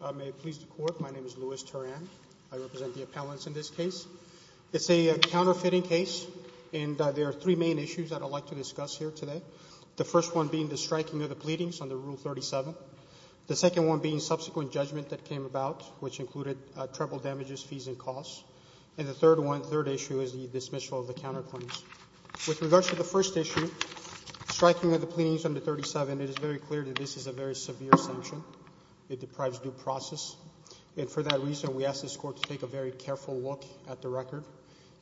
I represent the appellants in this case. It's a counterfeiting case, and there are three main issues that I'd like to discuss here today. The first one being the striking of the pleadings under Rule 37. The second one being subsequent judgment that came about, which included treble damages, fees, and costs. And the third one, third issue, is the dismissal of the counterclaims. With regards to the first issue, striking of the pleadings under Rule 37, it is very clear that this is a very severe sanction. It deprives due process. And for that reason, we ask this Court to take a very careful look at the record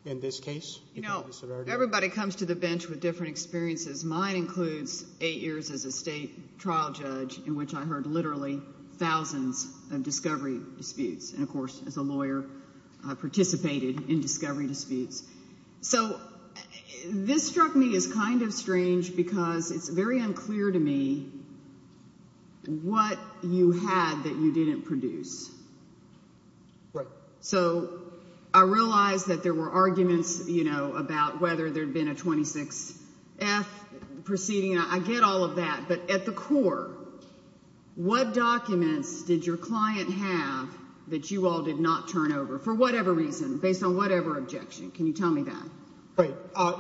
in this case. You know, everybody comes to the bench with different experiences. Mine includes eight years as a state trial judge, in which I heard literally thousands of discovery disputes. And, of course, as a lawyer, I participated in discovery disputes. So this struck me as kind of strange, because it's very unclear to me what you had that you didn't produce. Right. So I realize that there were arguments, you know, about whether there had been a 26F proceeding. I get all of that. But at the core, what documents did your client have that you all did not turn over, for whatever reason, based on whatever objection? Can you tell me that? Right.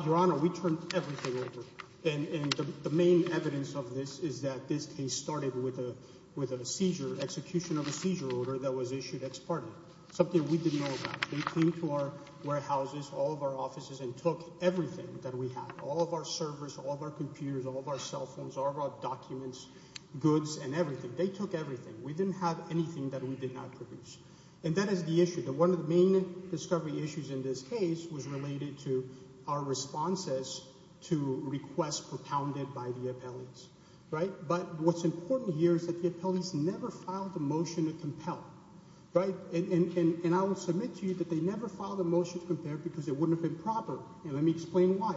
Your Honor, we turned everything over. And the main evidence of this is that this case started with a seizure, execution of a seizure order that was issued ex parte. Something we didn't know about. They came to our warehouses, all of our offices, and took everything that we had. All of our servers, all of our computers, all of our cell phones, all of our documents, goods, and everything. They took everything. We didn't have anything that we did not produce. And that is the issue. One of the main discovery issues in this case was related to our responses to requests propounded by the appellees. Right. But what's important here is that the appellees never filed a motion to compel. Right. And I will submit to you that they never filed a motion to compel because it wouldn't have been proper. And let me explain why.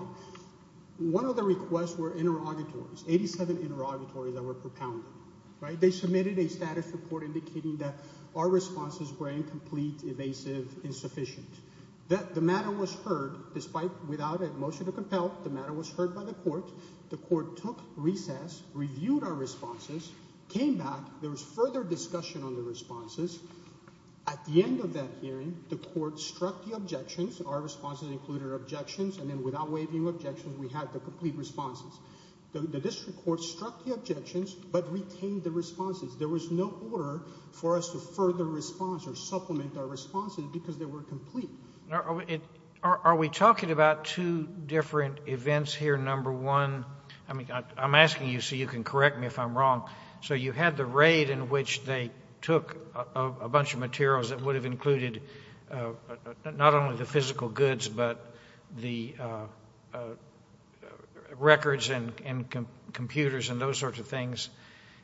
One of the requests were interrogatories, 87 interrogatories that were propounded. Right. They submitted a status report indicating that our responses were incomplete, evasive, insufficient. That the matter was heard despite without a motion to compel. The matter was heard by the court. The court took recess, reviewed our responses, came back. There was further discussion on the responses. At the end of that hearing, the court struck the objections. Our responses included objections. And then without waiving objections, we had the complete responses. The district court struck the objections, but retained the responses. There was no order for us to further response or supplement our responses because they were complete. Are we talking about two different events here? Number one, I mean, I'm asking you so you can correct me if I'm wrong. So you had the raid in which they took a bunch of materials that would have included not only the physical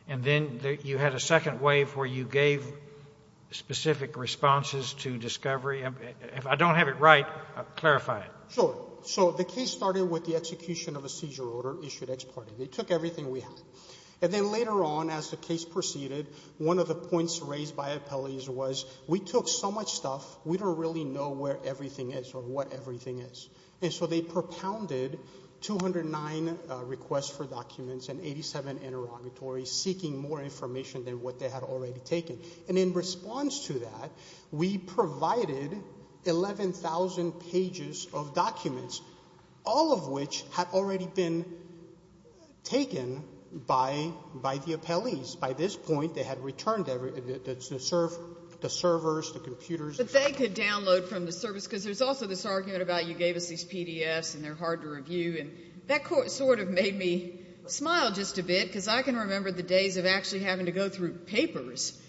and then you had a second wave where you gave specific responses to discovery. If I don't have it right, clarify it. Sure. So the case started with the execution of a seizure order issued ex parte. They took everything we had. And then later on, as the case proceeded, one of the points raised by appellees was, we took so much stuff, we don't really know where everything is or what everything is. And so they propounded 209 requests for documents and 87 interrogatories seeking more information than what they had already taken. And in response to that, we provided 11,000 pages of documents, all of which had already been taken by the appellees. By this point, they had returned the servers, the computers. But they could download from the service because there's also this argument about you gave us these because I can remember the days of actually having to go through papers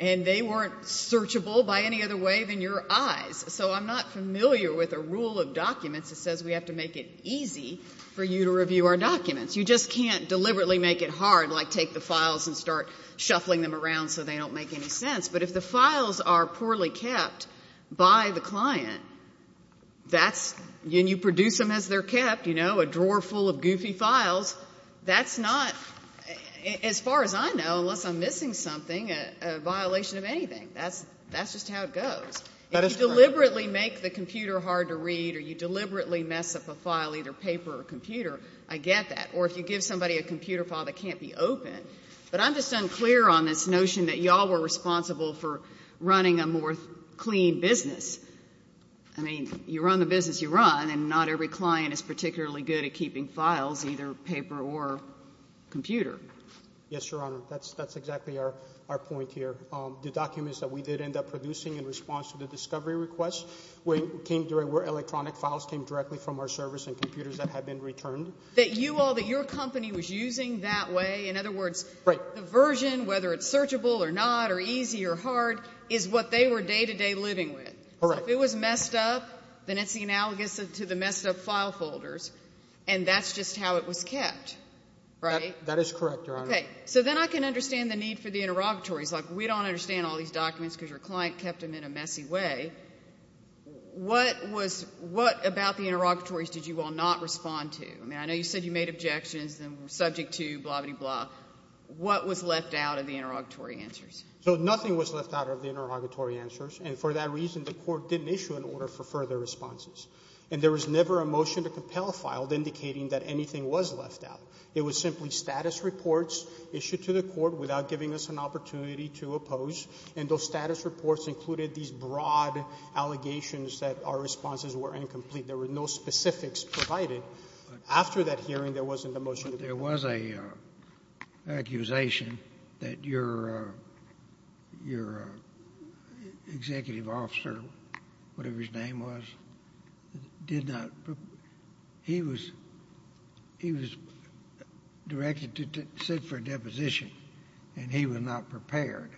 and they weren't searchable by any other way than your eyes. So I'm not familiar with a rule of documents that says we have to make it easy for you to review our documents. You just can't deliberately make it hard, like take the files and start shuffling them around so they don't make any sense. But if the files are poorly kept by the client, that's you produce them as they're that's not, as far as I know, unless I'm missing something, a violation of anything. That's just how it goes. If you deliberately make the computer hard to read or you deliberately mess up a file, either paper or computer, I get that. Or if you give somebody a computer file that can't be opened. But I'm just unclear on this notion that you all were responsible for running a more clean business. I mean, you run the business you run, and not every is particularly good at keeping files, either paper or computer. Yes, Your Honor. That's exactly our point here. The documents that we did end up producing in response to the discovery request came directly where electronic files came directly from our servers and computers that had been returned. That you all, that your company was using that way, in other words, the version, whether it's searchable or not or easy or hard, is what they were day to day living with. Correct. If it was messed up, then it's the analogous to the messed up file folders. And that's just how it was kept, right? That is correct, Your Honor. Okay. So then I can understand the need for the interrogatories. Like, we don't understand all these documents because your client kept them in a messy way. What was what about the interrogatories did you all not respond to? I mean, I know you said you made objections and were subject to blah-biddy-blah. What was left out of the interrogatory answers? So nothing was left out of the interrogatory answers. And for that reason, the Court didn't issue an order for further responses. And there was never a motion to compel filed indicating that anything was left out. It was simply status reports issued to the Court without giving us an opportunity to oppose. And those status reports included these broad allegations that our responses were incomplete. There were no specifics provided. After that hearing, there wasn't a motion to compel. There was an accusation that your executive officer, whatever his name was, did not... He was directed to sit for a deposition, and he was not prepared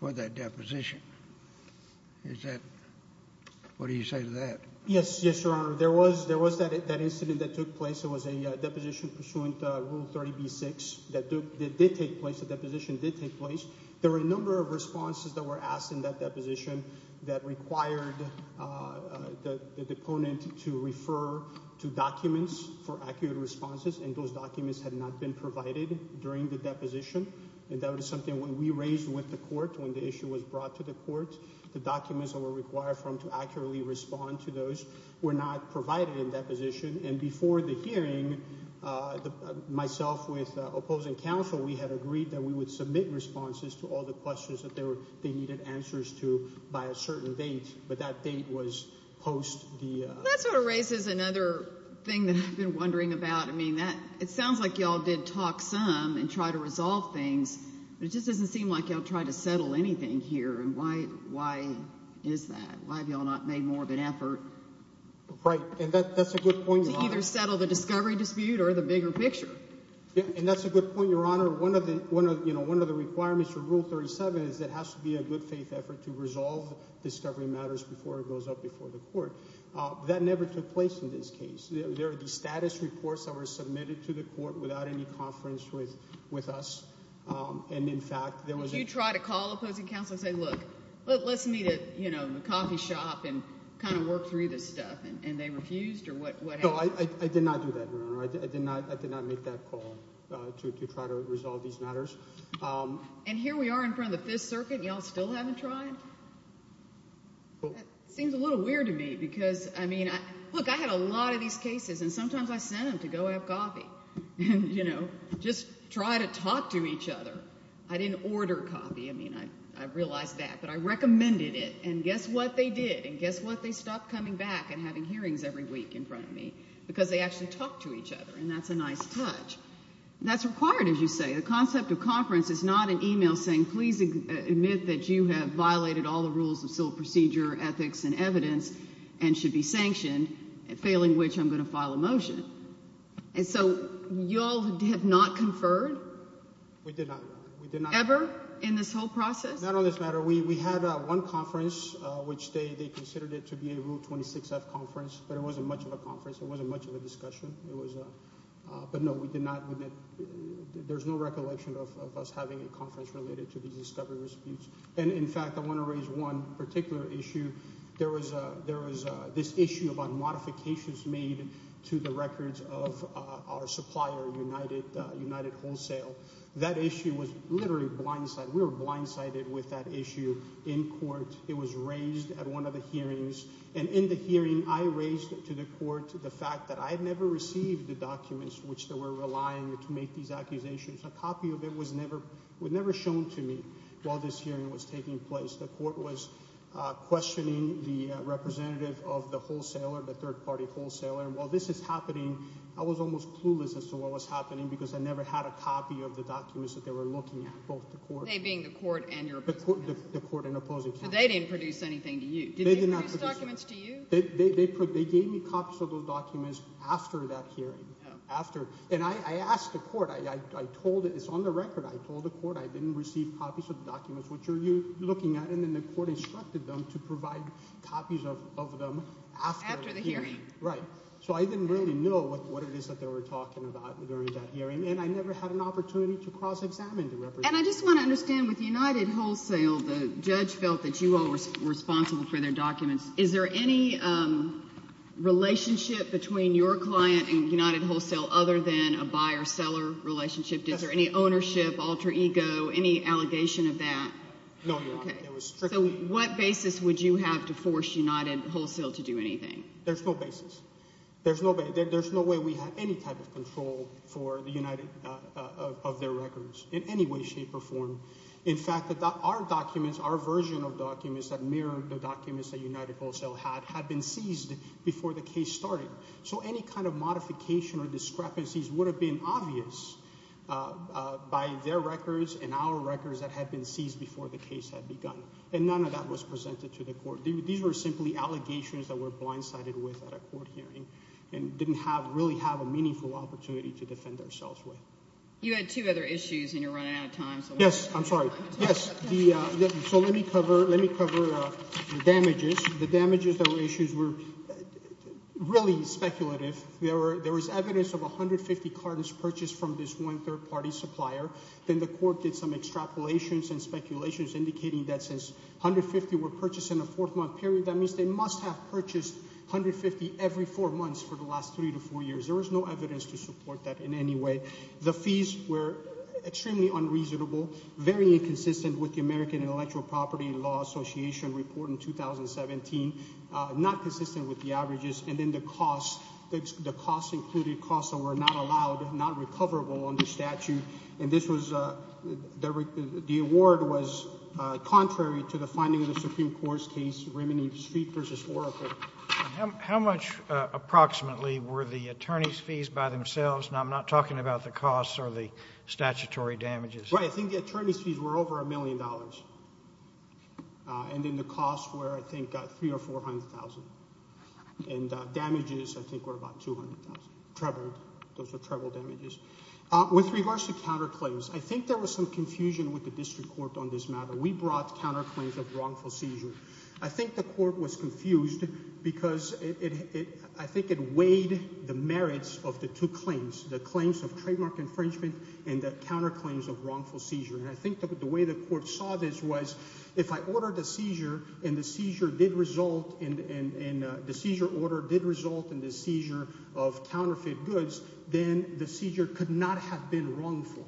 for that deposition. Is that... What do you say to that? Yes, Your Honor. There was that incident that took place. It was a deposition pursuant to Rule 30b-6 that did take place. The deposition did take place. There were a number of responses that were asked in that deposition that required the deponent to refer to documents for accurate responses, and those documents had not been provided during the deposition. And that was something when we raised with the Court, when the issue was brought to the Court, the documents that were required for him to accurately respond to those were not provided in that deposition. Myself with opposing counsel, we had agreed that we would submit responses to all the questions that they needed answers to by a certain date, but that date was post the... That sort of raises another thing that I've been wondering about. I mean, it sounds like y'all did talk some and try to resolve things, but it just doesn't seem like y'all tried to settle anything here. And why is that? Why have y'all not made more of an effort... Right, and that's a discovery dispute or the bigger picture. Yeah, and that's a good point, Your Honor. One of the, you know, one of the requirements for Rule 37 is it has to be a good faith effort to resolve discovery matters before it goes up before the Court. That never took place in this case. There are the status reports that were submitted to the Court without any conference with us, and in fact... Did you try to call opposing counsel and say, look, let's meet at, you know, the coffee shop and kind of work through this stuff, and they refused or what No, I did not do that, Your Honor. I did not make that call to try to resolve these matters. And here we are in front of the Fifth Circuit, and y'all still haven't tried? Seems a little weird to me because, I mean, look, I had a lot of these cases, and sometimes I sent them to go have coffee and, you know, just try to talk to each other. I didn't order coffee. I mean, I realized that, but I recommended it, and guess what they did? And guess what? They stopped coming back and having because they actually talked to each other, and that's a nice touch. That's required, as you say. The concept of conference is not an email saying, please admit that you have violated all the rules of civil procedure, ethics, and evidence and should be sanctioned, failing which I'm going to file a motion. And so y'all have not conferred? We did not. Ever in this whole process? Not on this matter. We had one conference, which they considered it to be a Rule 26-F conference, but it wasn't much of a conference. It wasn't much of a discussion. But no, we did not admit. There's no recollection of us having a conference related to these discovery disputes. And in fact, I want to raise one particular issue. There was this issue about modifications made to the records of our supplier, United Wholesale. That issue was literally blindsided. We were blindsided with that issue in court. It was raised at one of the hearings, and in the hearing, I raised to the court the fact that I had never received the documents which they were relying to make these accusations. A copy of it was never shown to me while this hearing was taking place. The court was questioning the representative of the wholesaler, the third-party wholesaler, and while this is happening, I was almost clueless as to what was happening because I never had a copy of the documents that they were looking at, both the court... They being the court and your opposing counsel? The court and They did not produce documents to you? They gave me copies of those documents after that hearing. And I asked the court. It's on the record. I told the court I didn't receive copies of the documents which you're looking at, and then the court instructed them to provide copies of them after the hearing. Right. So I didn't really know what it is that they were talking about during that hearing, and I never had an opportunity to cross-examine the representative. And I just want to understand, with United Wholesale, the judge felt that you all were responsible for their documents. Is there any relationship between your client and United Wholesale other than a buyer-seller relationship? Is there any ownership, alter ego, any allegation of that? No, Your Honor. That was strictly... So what basis would you have to force United Wholesale to do anything? There's no basis. There's no way we have any type of control for the United... of their records in any way, shape, or form. In fact, our documents, our version of documents that mirrored the documents that United Wholesale had, had been seized before the case started. So any kind of modification or discrepancies would have been obvious by their records and our records that had been seized before the case had begun. And none of that was presented to the court. These were simply allegations that were blindsided with at a court hearing and didn't have... really have a meaningful opportunity to defend ourselves with. You had two other issues, and you're running out of time, so... Let me cover damages. The damages that were issued were really speculative. There was evidence of 150 cartons purchased from this one third-party supplier. Then the court did some extrapolations and speculations indicating that since 150 were purchased in a four-month period, that means they must have purchased 150 every four months for the last three to four years. There was no evidence to support that in any way. The fees were extremely unreasonable, very inconsistent with the American Intellectual Property Law Association report in 2017, not consistent with the averages. And then the costs, the costs included costs that were not allowed, not recoverable under statute. And this was... the award was contrary to the finding of the Supreme Court's case, Remini Street v. Oracle. How much approximately were the attorneys' fees by themselves? Now, I'm not talking about the costs or the statutory damages. Right, I think the attorneys' fees were over a million dollars. And then the costs were, I think, three or four hundred thousand. And damages, I think, were about two hundred thousand, treble. Those were treble damages. With regards to counterclaims, I think there was some confusion with the district court on this matter. We brought counterclaims of wrongful seizure. I think the court was confused because it... I think it weighed the merits of the two claims of trademark infringement and the counterclaims of wrongful seizure. And I think the way the court saw this was, if I ordered a seizure and the seizure did result in... the seizure order did result in the seizure of counterfeit goods, then the seizure could not have been wrongful.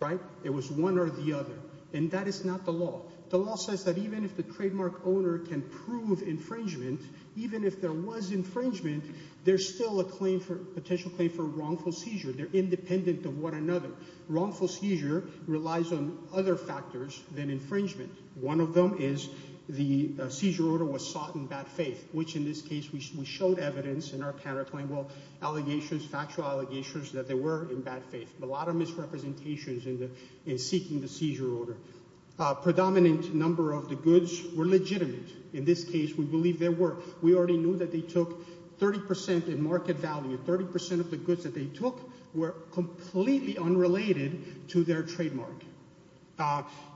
Right? It was one or the other. And that is not the law. The law says that even if the trademark owner can prove infringement, even if there was infringement, there's still a claim for... potential claim for wrongful seizure. They're independent of one another. Wrongful seizure relies on other factors than infringement. One of them is the seizure order was sought in bad faith, which in this case we showed evidence in our counterclaim well, allegations, factual allegations that there were in bad faith. A lot of misrepresentations in the... in seeking the seizure order. A predominant number of the goods were legitimate. In this case, we believe there were. We already knew that they had market value. Thirty percent of the goods that they took were completely unrelated to their trademark.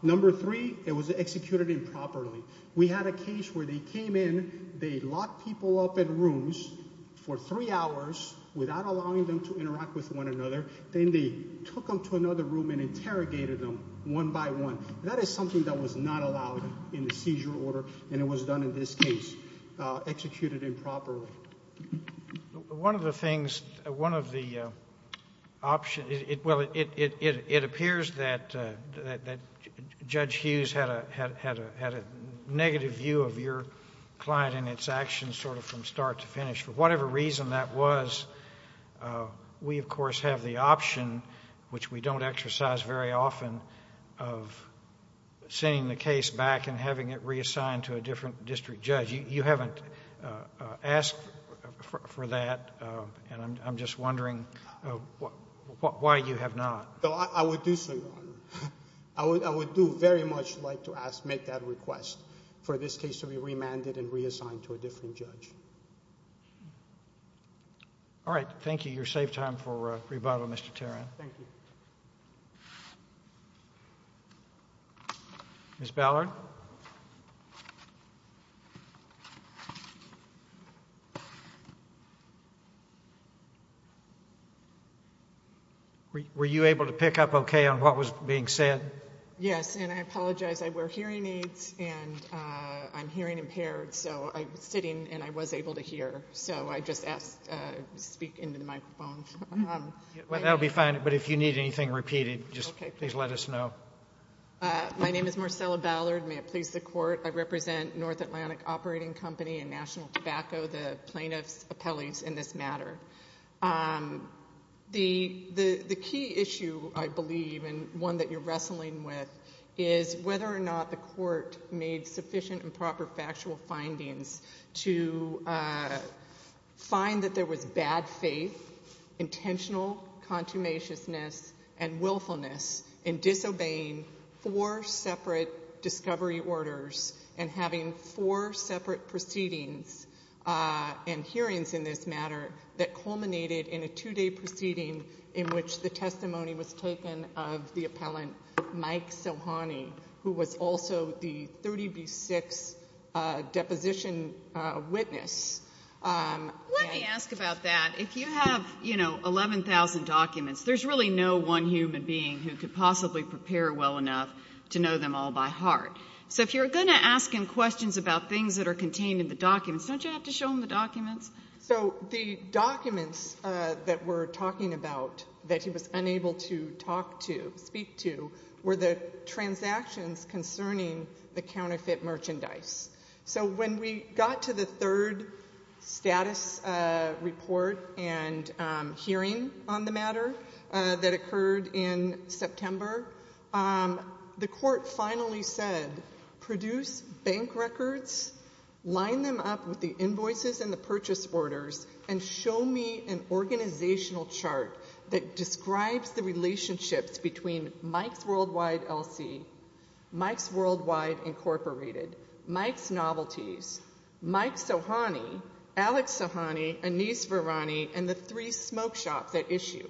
Number three, it was executed improperly. We had a case where they came in, they locked people up in rooms for three hours without allowing them to interact with one another. Then they took them to another room and interrogated them one by one. That is something that was not allowed in the seizure order, and it was done in this case. Executed improperly. One of the things, one of the options, it appears that Judge Hughes had a negative view of your client and its actions sort of from start to finish. For whatever reason that was, we of course have the option, which we don't exercise very often, of sending the case back and having it reassigned to a different district judge. You haven't asked for that, and I'm just wondering why you have not. No, I would do so, Your Honor. I would do very much like to ask, make that request for this case to be remanded and reassigned to a different judge. All right. Thank you. You saved time for rebuttal, Mr. Teran. Thank you. Ms. Ballard? Were you able to pick up okay on what was being said? Yes, and I apologize. I wear hearing aids and I'm hearing impaired, so I'm sitting and I was able to hear, That'll be fine, but if you need anything repeated, just please let us know. My name is Marcella Ballard. May it please the Court, I represent North Atlantic Operating Company and National Tobacco, the plaintiff's appellees in this matter. The key issue, I believe, and one that you're wrestling with is whether or not the Court made sufficient and proper factual findings to find that there was bad faith intentional contumaciousness and willfulness in disobeying four separate discovery orders and having four separate proceedings and hearings in this matter that culminated in a two-day proceeding in which the testimony was taken of the appellant, Mike Sohani, who was also the 11,000 documents. There's really no one human being who could possibly prepare well enough to know them all by heart. So if you're going to ask him questions about things that are contained in the documents, don't you have to show him the documents? So the documents that we're talking about that he was unable to talk to, speak to, were the transactions concerning the counterfeit merchandise. So when we got to the third status report and hearing on the matter that occurred in September, the Court finally said, produce bank records, line them up with the invoices and the purchase orders, and show me an organizational chart that describes the relationships between Mike's Worldwide Incorporated, Mike's Novelties, Mike Sohani, Alex Sohani, Anis Verani, and the three smoke shops at issue.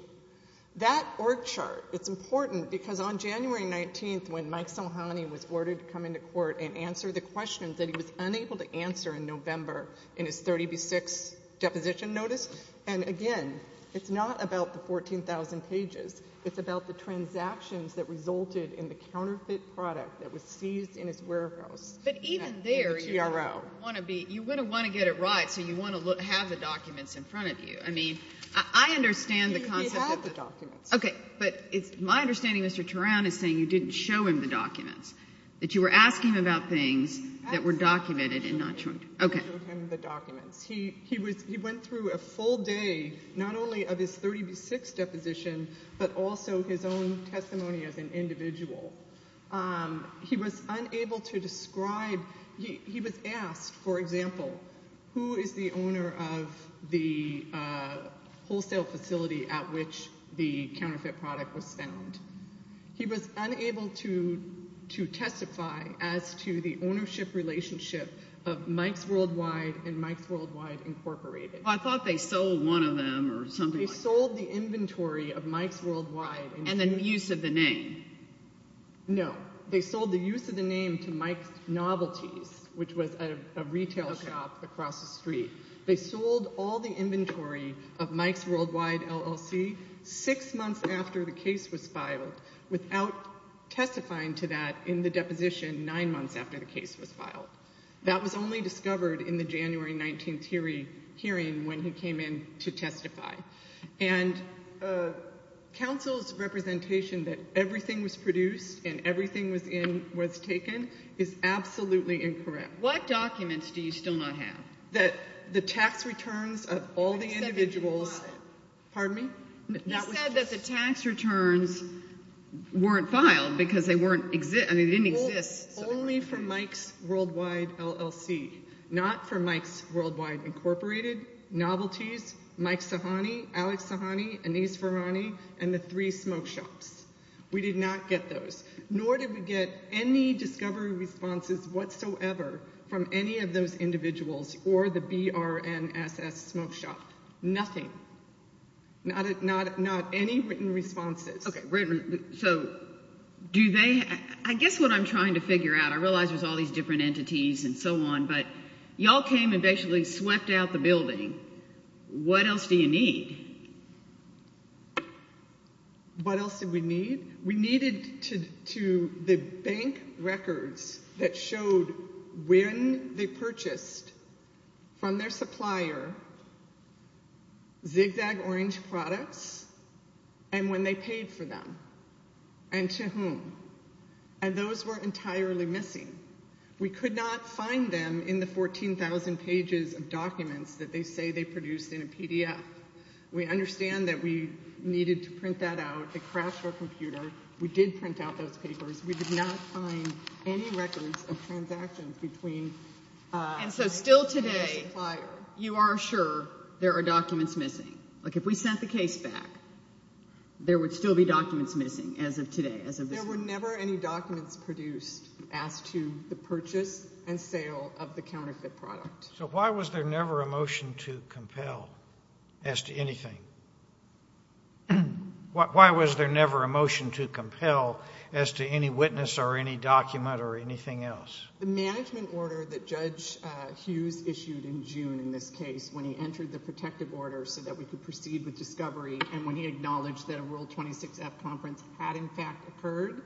That org chart, it's important because on January 19th when Mike Sohani was ordered to come into court and answer the questions that he was unable to answer in November in his 30b6 deposition notice, and again it's not about the 14,000 pages, it's about the transactions that resulted in the counterfeit product that was seized in his warehouse. But even there you want to be, you want to want to get it right, so you want to have the documents in front of you. I mean, I understand the concept. He had the documents. Okay, but it's my understanding Mr. Turan is saying you didn't show him the documents, that you were asking about things that were documented and not shown to him. Okay. You didn't show him the documents. He went through a full day not only of his 30b6 deposition but also his own testimony as an individual. He was unable to describe, he was asked, for example, who is the owner of the wholesale facility at which the counterfeit product was found. He was unable to to testify as to the ownership relationship of Mike's Worldwide and Mike's Worldwide Incorporated. I thought they sold one of them or something. They sold the inventory of Mike's Worldwide. And the use of the name. No, they sold the use of the name to Mike's Novelties, which was a retail shop across the street. They sold all the inventory of Mike's Worldwide LLC six months after the case was filed without testifying to that in the deposition nine months after the case was filed. That was only discovered in the January 19th hearing when he came in to testify. And counsel's representation that everything was produced and everything was in was taken is absolutely incorrect. What documents do you still not have? That the tax returns of all the individuals, pardon me? You said that the tax returns weren't filed because they weren't exist, they didn't exist. Only for Mike's Worldwide LLC. Not for Mike's Worldwide Incorporated, Novelties, Mike Sahani, Alex Sahani, Anees Farhani, and the three smoke shops. We did not get those. Nor did we get any discovery responses whatsoever from any of those individuals or the BRNSS smoke shop. Nothing. Not any written responses. Okay, wait a minute. So do they, I guess what I'm trying to figure out, I realize there's all these different entities and so on, but y'all came and basically swept out the building. What else do you need? What else did we need? We needed to the bank records that showed when they purchased from their supplier zigzag orange products and when they paid for them and to whom. And those were entirely missing. We could not find them in the 14,000 pages of documents that they say they produced in a PDF. We understand that we needed to print that out. They crashed our computer. We did print out those papers. We did not find any records of transactions between and so still today you are sure there are documents missing. Like if we sent the case back, there would still be documents missing as of today. There were never any documents produced as to the purchase and sale of the counterfeit product. So why was there never a motion to compel as to anything? Why was there never a motion to compel as to any witness or any document or anything else? The management order that Judge Hughes issued in June in this case when he entered the protective order so that we could proceed with discovery and when he acknowledged that a World 26F conference had in fact occurred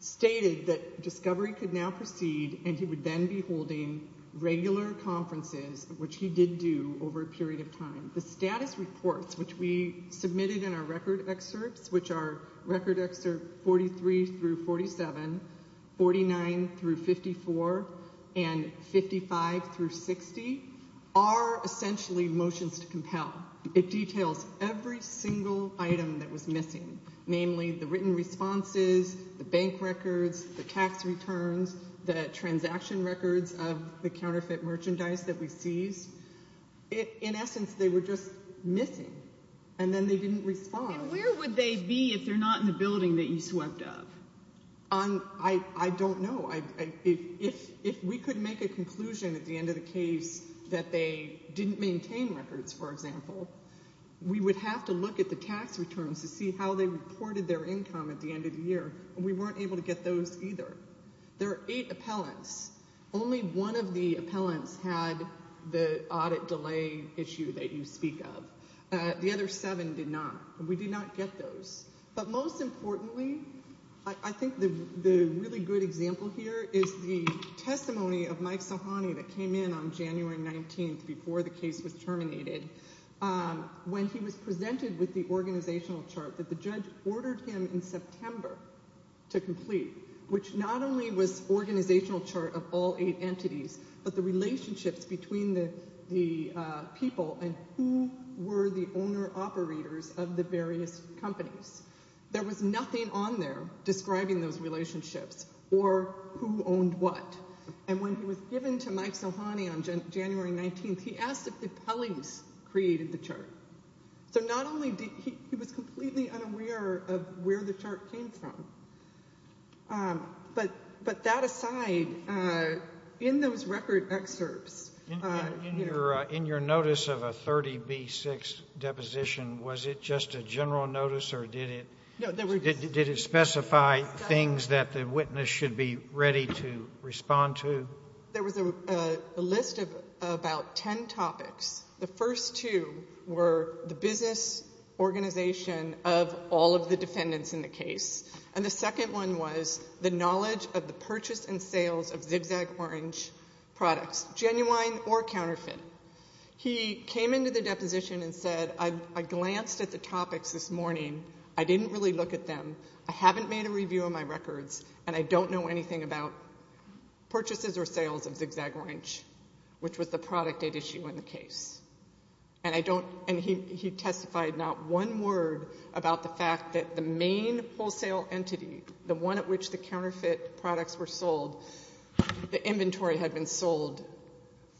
stated that discovery could now proceed and he would then be holding regular conferences which he did do over a period of time. The status reports which we submitted in our record excerpts which are 43 through 47, 49 through 54, and 55 through 60 are essentially motions to compel. It details every single item that was missing, namely the written responses, the bank records, the tax returns, the transaction records of the counterfeit merchandise that we seized. In essence they were just missing and then they didn't respond. And where would they be if they're not in the building that you swept up? I don't know. If we could make a conclusion at the end of the case that they didn't maintain records, for example, we would have to look at the tax returns to see how they reported their income at the end of the year. We weren't able to get those either. There are eight appellants. Only one of the appellants had the audit delay issue that you speak of. The other seven did not. We did not get those. But most importantly, I think the really good example here is the testimony of Mike Sohani that came in on January 19th before the case was terminated. When he was presented with the organizational chart that the judge ordered him in September to complete, which not only was organizational chart of all eight entities, but the relationships between the people and who were the owner operators of the various companies. There was nothing on there describing those relationships or who owned what. And when he was given to Mike Sohani on January 19th, he asked if the appellees created the chart. So not only did he, he was completely unaware of where the chart came from. But that aside, in those record deposition, was it just a general notice or did it specify things that the witness should be ready to respond to? There was a list of about 10 topics. The first two were the business organization of all of the defendants in the case. And the second one was the knowledge of the purchase and sales of zigzag orange products, genuine or counterfeit. He came into the deposition and said, I glanced at the topics this morning. I didn't really look at them. I haven't made a review of my records and I don't know anything about purchases or sales of zigzag orange, which was the product at issue in the case. And he testified not one word about the fact that the main wholesale entity, the one at which the counterfeit products were sold, the inventory had been sold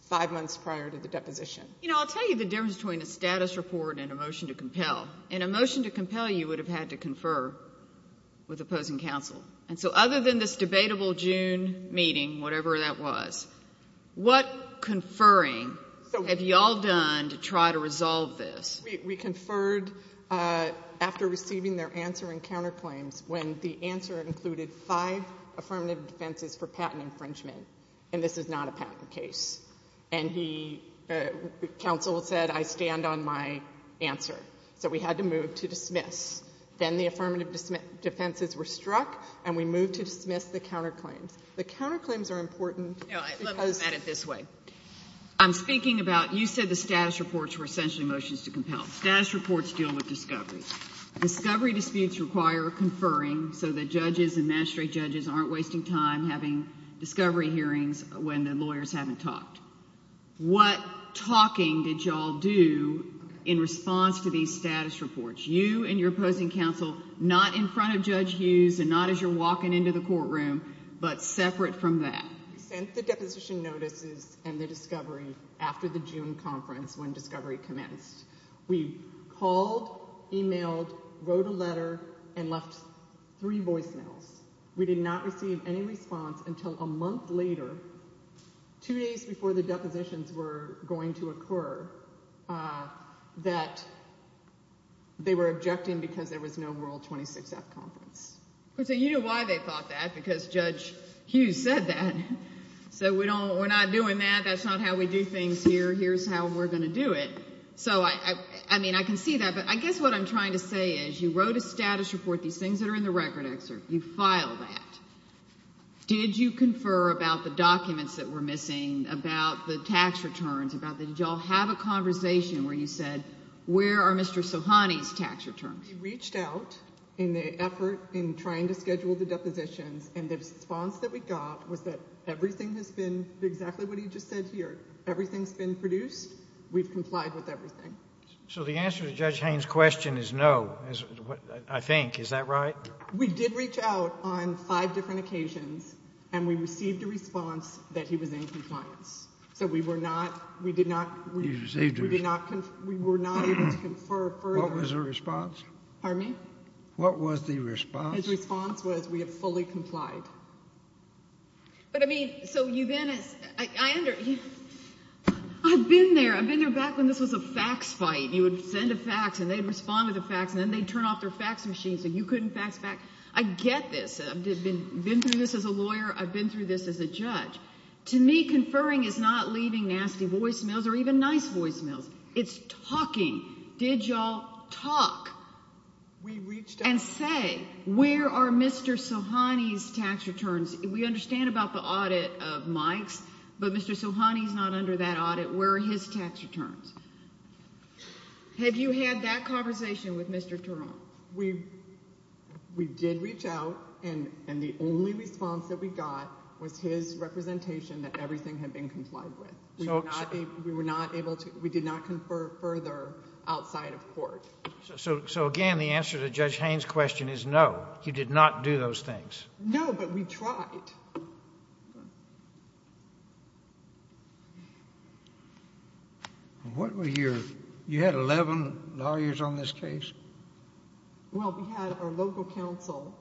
five months prior to the deposition. You know, I'll tell you the difference between a status report and a motion to compel. In a motion to compel, you would have had to confer with opposing counsel. And so other than this debatable June meeting, whatever that was, what conferring have y'all done to try to resolve this? We conferred after receiving their answer and counterclaims when the answer included five affirmative defenses for patent infringement. And this is not a patent case. And he, counsel said, I stand on my answer. So we had to move to dismiss. Then the affirmative defenses were struck and we moved to dismiss the counterclaims. The counterclaims are important. No, let me put it this way. I'm speaking about, you said the status reports were essentially motions to compel. Status reports deal with discovery. Discovery disputes require conferring so that judges and magistrate judges aren't wasting time having discovery hearings when the lawyers haven't talked. What talking did y'all do in response to these status reports? You and your opposing counsel, not in front of Judge Hughes and not as you're walking into the courtroom, but separate from that. We sent the deposition notices and the discovery after the June conference when discovery commenced. We called, emailed, wrote a letter, and left three voicemails. We did not receive any response until a month later, two days before the depositions were going to occur, that they were objecting because there was no World 26th conference. So you know why they thought that because Judge Hughes said that. So we don't, we're not doing that. That's not how we do things here. Here's how we're going to do it. So I mean, I can see that, but I guess what I'm trying to say is you wrote a status report, these things that are in the record excerpt, you file that. Did you confer about the documents that were missing, about the tax returns, about did y'all have a conversation where you said where are Mr. Sohani's tax returns? We reached out in the effort in trying to schedule the depositions and the response that we got was that everything has been exactly what he just said here. Everything's been produced. We've complied with everything. So the answer to Judge Haines' question is no, is what I think. Is that right? We did reach out on five different occasions and we received a response that he was in compliance. So we were not, we did not, we did not, we were not able to confer further. What was the response? Pardon me? What was the response? His response was that we had fully complied. But I mean, so you then, I under, I've been there, I've been there back when this was a fax fight. You would send a fax and they'd respond with a fax and then they'd turn off their fax machine so you couldn't fax back. I get this. I've been through this as a lawyer. I've been through this as a judge. To me, conferring is not leaving nasty voicemails or even nice voicemails. It's talking. Did y'all talk and say, where are Mr. Sohani's tax returns? We understand about the audit of Mike's, but Mr. Sohani's not under that audit. Where are his tax returns? Have you had that conversation with Mr. Tarrant? We did reach out and the only response that we got was his representation that everything had been complied with. We were not able to, we did not confer further outside of court. So again, the answer to Judge Haines' question is no. He did not do those things. No, but we tried. What were your, you had 11 lawyers on this case? Well, we had our local counsel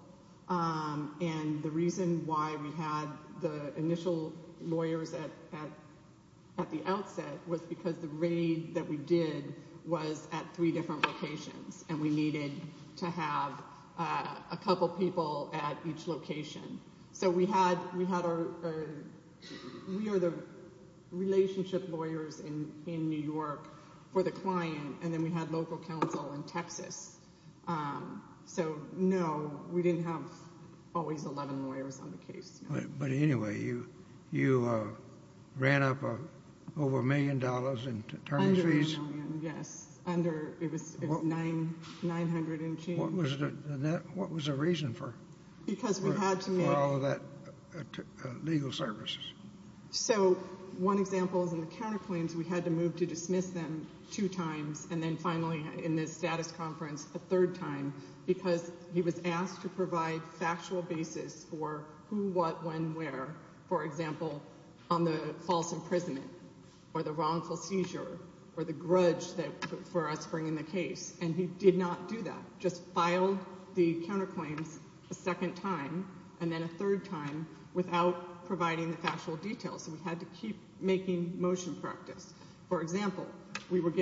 and the reason why we had the initial lawyers at the outset was because the raid that we did was at three different locations and we needed to have a couple people at each location. We are the relationship lawyers in New York for the client and then we had local counsel in Texas. No, we didn't have always 11 lawyers on the case. But anyway, you ran up over a million dollars in terms of fees? Under a million, yes. It was $900 in change. What was the reason for all of that legal service? So one example is in the counterclaims we had to move to dismiss them two times and then finally in the status conference a third time because he was asked to provide factual basis for who, what, when, where. For example, on the false imprisonment or the wrongful seizure or the grudge that for us bringing the case and he did not do that. Just filed the counterclaims a second time and then a third time without providing the factual details. We had to keep making motion practice. For example, we had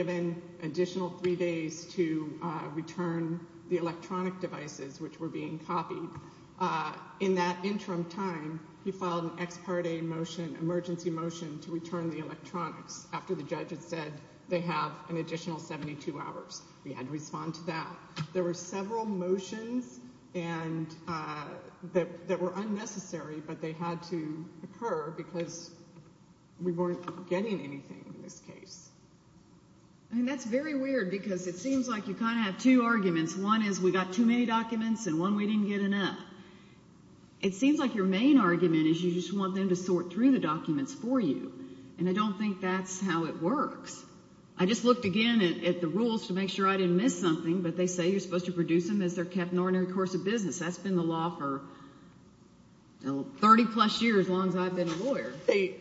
to return the electronic devices which were being copied. In that interim time, he filed an ex parte motion, emergency motion to return the electronics after the judge had said they have an additional 72 hours. We had to respond to that. There were several motions that were unnecessary but they had to occur because we weren't getting anything in this case. I mean that's very weird because it seems like you kind of have two arguments. One is we got too many documents and one we didn't get enough. It seems like your main argument is you just want them to sort through the documents for you and I don't think that's how it works. I just looked again at the rules to make sure I didn't miss something but they say you're supposed to produce them as their cap and ordinary course of business. That's been the law for 30 plus years as long as I've been a lawyer. They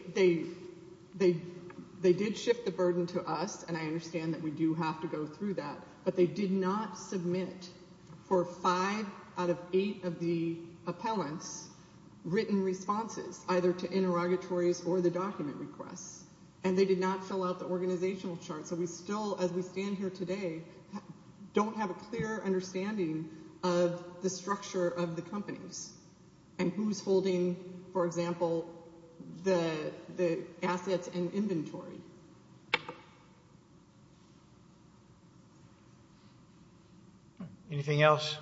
did shift the burden to us and I understand that we do have to go through that but they did not submit for five out of eight of the appellants written responses either to interrogatories or the document requests and they did not fill out the organizational chart. So we still, as we stand here today, don't have a clear understanding of the structure of the assets and inventory. Anything else?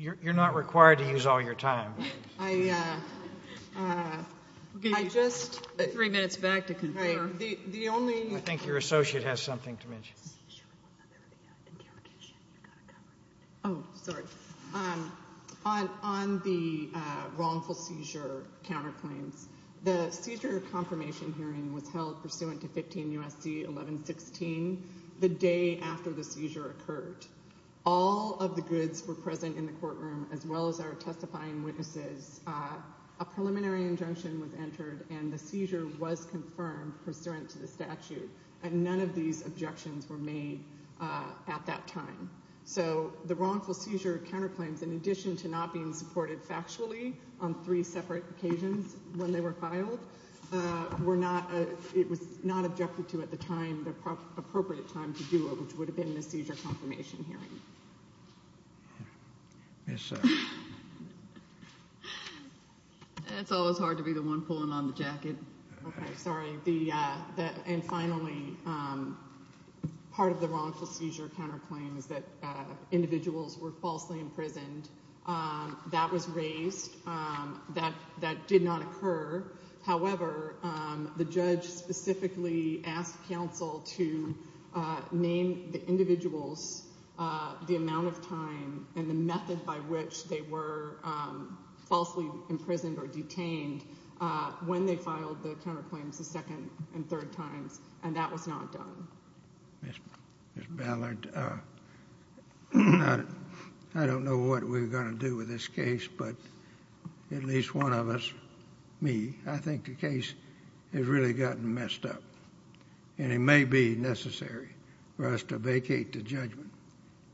You're not required to use all your time. I think your associate has something to mention. On the wrongful seizure counterclaims, the seizure confirmation hearing was held pursuant to 15 U.S.C. 1116 the day after the seizure occurred. All of the goods were present in the courtroom as well as our testifying witnesses. A preliminary injunction was entered and the seizure was confirmed pursuant to the statute and none of these objections were made at that time. So the counterclaims, in addition to not being supported factually on three separate occasions when they were filed, were not, it was not objected to at the time, the appropriate time to do it, which would have been the seizure confirmation hearing. It's always hard to be the one pulling on the jacket. Sorry. And finally, part of the wrongful seizure counterclaims that individuals were falsely imprisoned, that was raised, that did not occur. However, the judge specifically asked counsel to name the individuals the amount of time and the method by which they were falsely imprisoned or detained when they filed the counterclaims the second and third times, and that was not done. Ms. Ballard, I don't know what we're going to do with this case, but at least one of us, me, I think the case has really gotten messed up and it may be necessary for us to vacate the judgment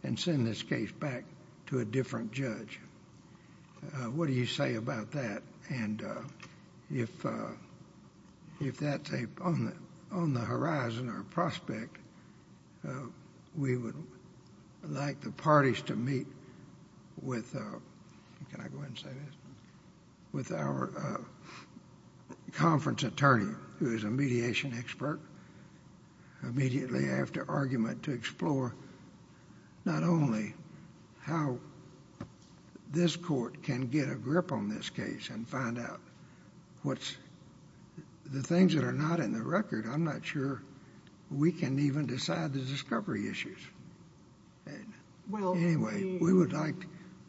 and send this case back to a different judge. What do you say about that? And if that's on the horizon or on the prospect, we would like the parties to meet with, can I go ahead and say this, with our conference attorney, who is a mediation expert, immediately after argument to explore not only how this court can get a grip on this case and find out what's, the things that are not in the record, I'm not sure we can even decide the discovery issues. Anyway, we would like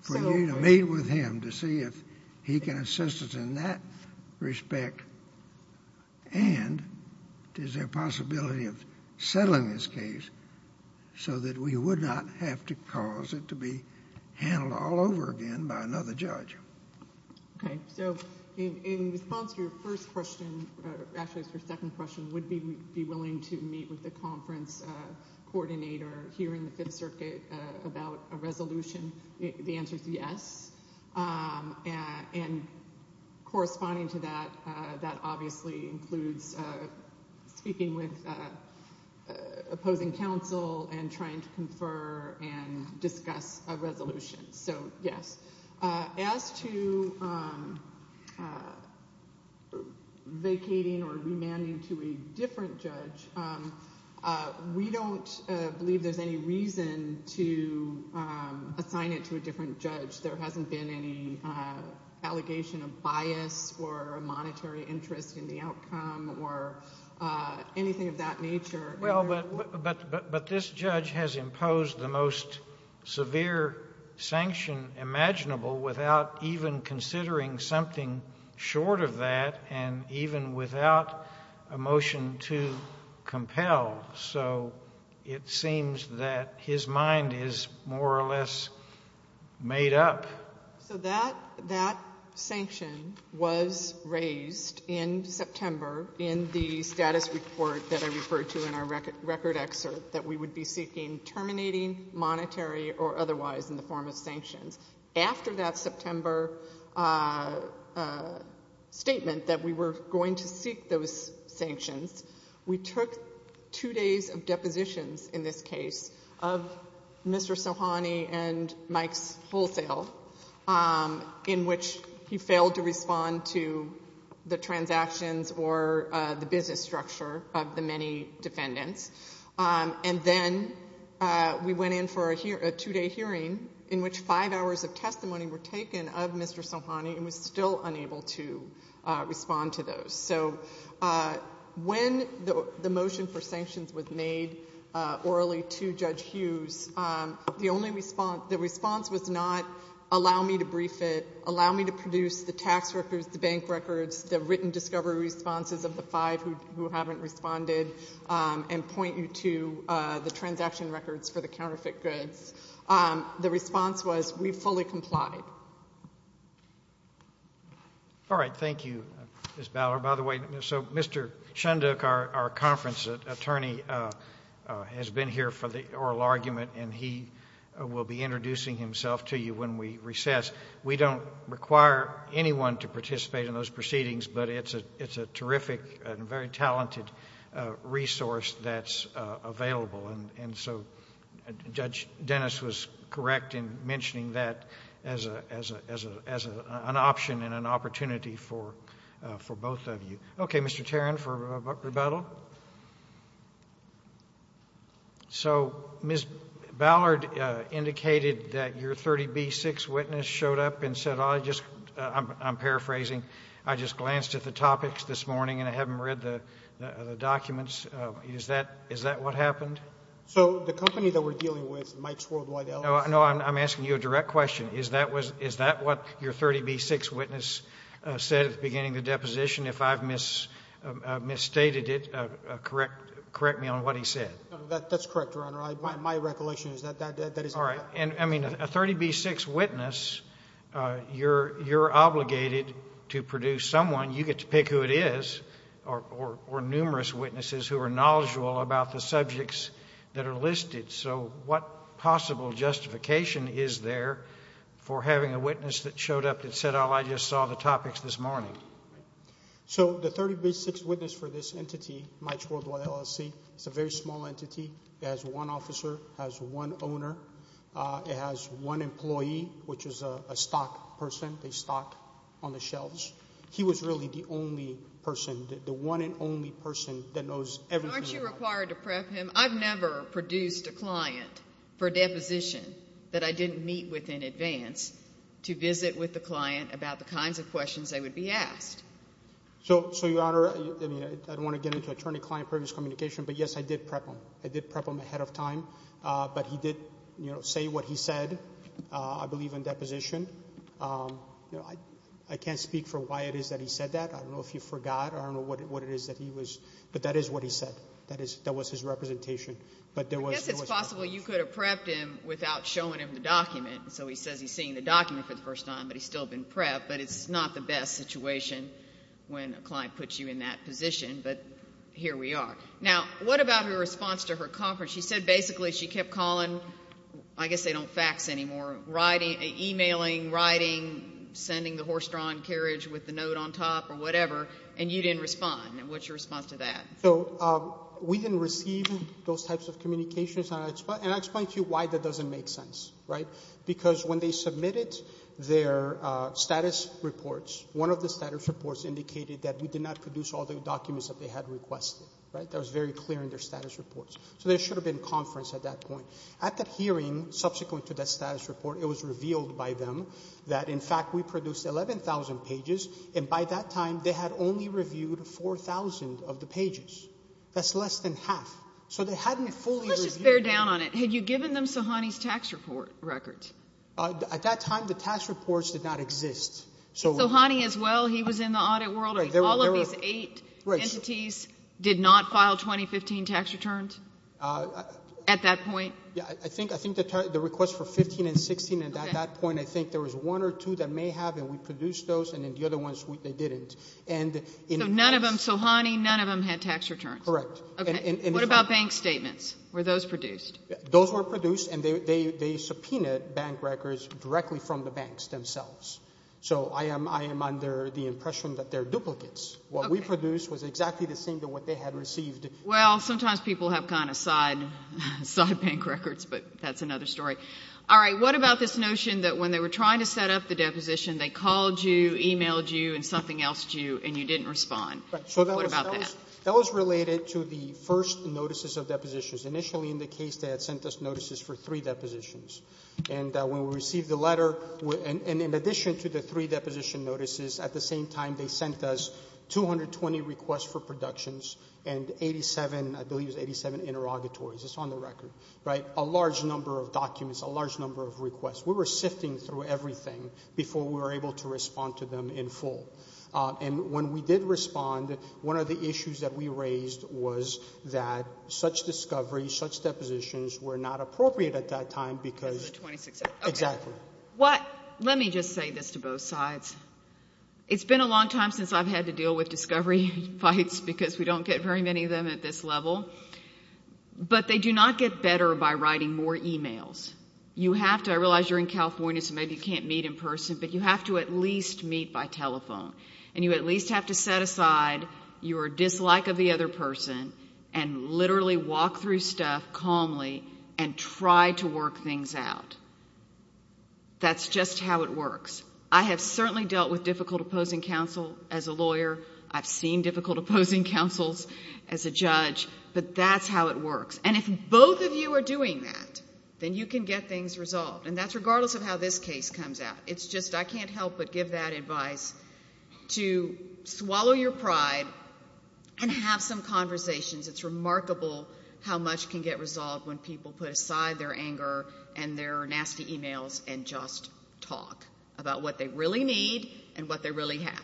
for you to meet with him to see if he can assist us in that respect and is there a possibility of settling this case so that we would not have to cause it to be handled all over again by another judge. Okay, so in response to your first question, actually it's your second question, would we be willing to meet with the conference coordinator here in the Fifth Circuit about a resolution? The answer is yes, and corresponding to that, that obviously includes speaking with opposing counsel and trying to confer and discuss a resolution, so yes. As to vacating or remanding to a different judge, we don't believe there's any reason to assign it to a different judge. There hasn't been any allegation of bias or a monetary interest in the outcome or anything of that nature. Well, but this judge has imposed the most severe sanction imaginable without even considering something short of that and even without a motion to compel, so it seems that his mind is more or less made up. So that sanction was raised in September in the status report that I referred to in our record excerpt that we would be seeking terminating monetary or after that September statement that we were going to seek those sanctions. We took two days of depositions in this case of Mr. Sohani and Mike's wholesale in which he failed to respond to the transactions or the business structure of the many defendants, and then we went in for a two-day hearing in which five hours of testimony were taken of Mr. Sohani and was still unable to respond to those. So when the motion for sanctions was made orally to Judge Hughes, the response was not allow me to brief it, allow me to produce the tax records, the bank records, the written discovery responses of the five who haven't responded and point you to the transaction records for the counterfeit goods. The response was we fully complied. All right. Thank you, Ms. Ballard. By the way, so Mr. Shundook, our conference attorney, has been here for the oral argument and he will be introducing himself to you when we recess. We don't require anyone to participate in those proceedings, but it's a terrific and very talented resource that's available, and so Judge Dennis was correct in mentioning that as an option and an opportunity for both of you. Okay, Mr. Tarrin, for rebuttal. So Ms. Ballard indicated that your 30B-6 witness showed up and said, I'm paraphrasing, I just glanced at the topics this morning and I haven't read the documents. Is that what happened? So the company that we're dealing with, Mike's Worldwide Elements... No, I'm asking you a direct question. Is that what your 30B-6 witness said at the beginning of the deposition? If I've misstated it, correct me on what he said. That's correct, Your Honor. My recollection is that that is... All right. I mean, a 30B-6 witness, you're obligated to produce someone. You get to pick who it is, or numerous witnesses who are knowledgeable about the subjects that are listed. So what possible justification is there for having a witness that showed up and said, oh, I just saw the topics this morning? So the 30B-6 witness for this entity, Mike's Worldwide LLC, is a very small entity. It has one officer. It has one owner. It has one employee, which is a stock person. They stock on the shelves. He was really the only one. Aren't you required to prep him? I've never produced a client for a deposition that I didn't meet with in advance to visit with the client about the kinds of questions that would be asked. So, Your Honor, I don't want to get into attorney-client previous communication, but yes, I did prep him. I did prep him ahead of time, but he did say what he said. I believe in deposition. I can't speak for why it is that he said that. I don't know if he forgot or I that was his representation. I guess it's possible you could have prepped him without showing him the document. So he says he's seeing the document for the first time, but he's still been prepped, but it's not the best situation when a client puts you in that position, but here we are. Now, what about her response to her conference? She said basically she kept calling, I guess they don't fax anymore, writing, emailing, writing, sending the horse-drawn carriage with the note on top or whatever, and you didn't respond. What's your response to that? So we didn't receive those types of communications, and I'll explain to you why that doesn't make sense, right? Because when they submitted their status reports, one of the status reports indicated that we did not produce all the documents that they had requested, right? That was very clear in their status reports. So there should have been conference at that point. At that hearing, subsequent to that status report, it was revealed by them that, in fact, we produced 11,000 pages, and by that time they had only reviewed 4,000 of the pages. That's less than half. So they hadn't fully reviewed it. Let's just bear down on it. Had you given them Sohani's tax report record? At that time, the tax reports did not exist. Sohani as well, he was in the audit world. All of these eight entities did not file 2015 tax returns at that point? Yeah, I think the request for 15 and 16, and at that point, I think there was one or two that may have, and we produced those, and then the other ones, they didn't. So none of them had tax returns? Correct. Okay. What about bank statements? Were those produced? Those were produced, and they subpoenaed bank records directly from the banks themselves. So I am under the impression that they're duplicates. What we produced was exactly the same than what they had received. Well, sometimes people have kind of side bank records, but that's another story. All right. What about this notion that when they were trying to set up the deposition, they called you, emailed you, and something else to you, and you That was related to the first notices of depositions. Initially, in the case, they had sent us notices for three depositions, and when we received the letter, and in addition to the three deposition notices, at the same time, they sent us 220 requests for productions and 87, I believe it was 87 interrogatories. It's on the record, right? A large number of documents, a large number of requests. We were sifting through everything before we were able to respond. One of the issues that we raised was that such discoveries, such depositions were not appropriate at that time because Exactly. Let me just say this to both sides. It's been a long time since I've had to deal with discovery fights because we don't get very many of them at this level, but they do not get better by writing more emails. I realize you're in California, so maybe you can't meet in person, but you have to at least have to set aside your dislike of the other person and literally walk through stuff calmly and try to work things out. That's just how it works. I have certainly dealt with difficult opposing counsel as a lawyer. I've seen difficult opposing counsels as a judge, but that's how it works, and if both of you are doing that, then you can get things resolved, and that's regardless of how this case comes out. It's just I can't help but give that advice to swallow your pride and have some conversations. It's remarkable how much can get resolved when people put aside their anger and their nasty emails and just talk about what they really need and what they really have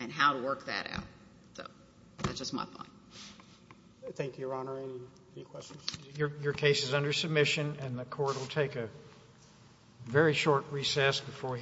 and how to work that out. So that's just my thought. Thank you, Your Honor. Any questions? Your case is under submission, and the Court will take a very short recess before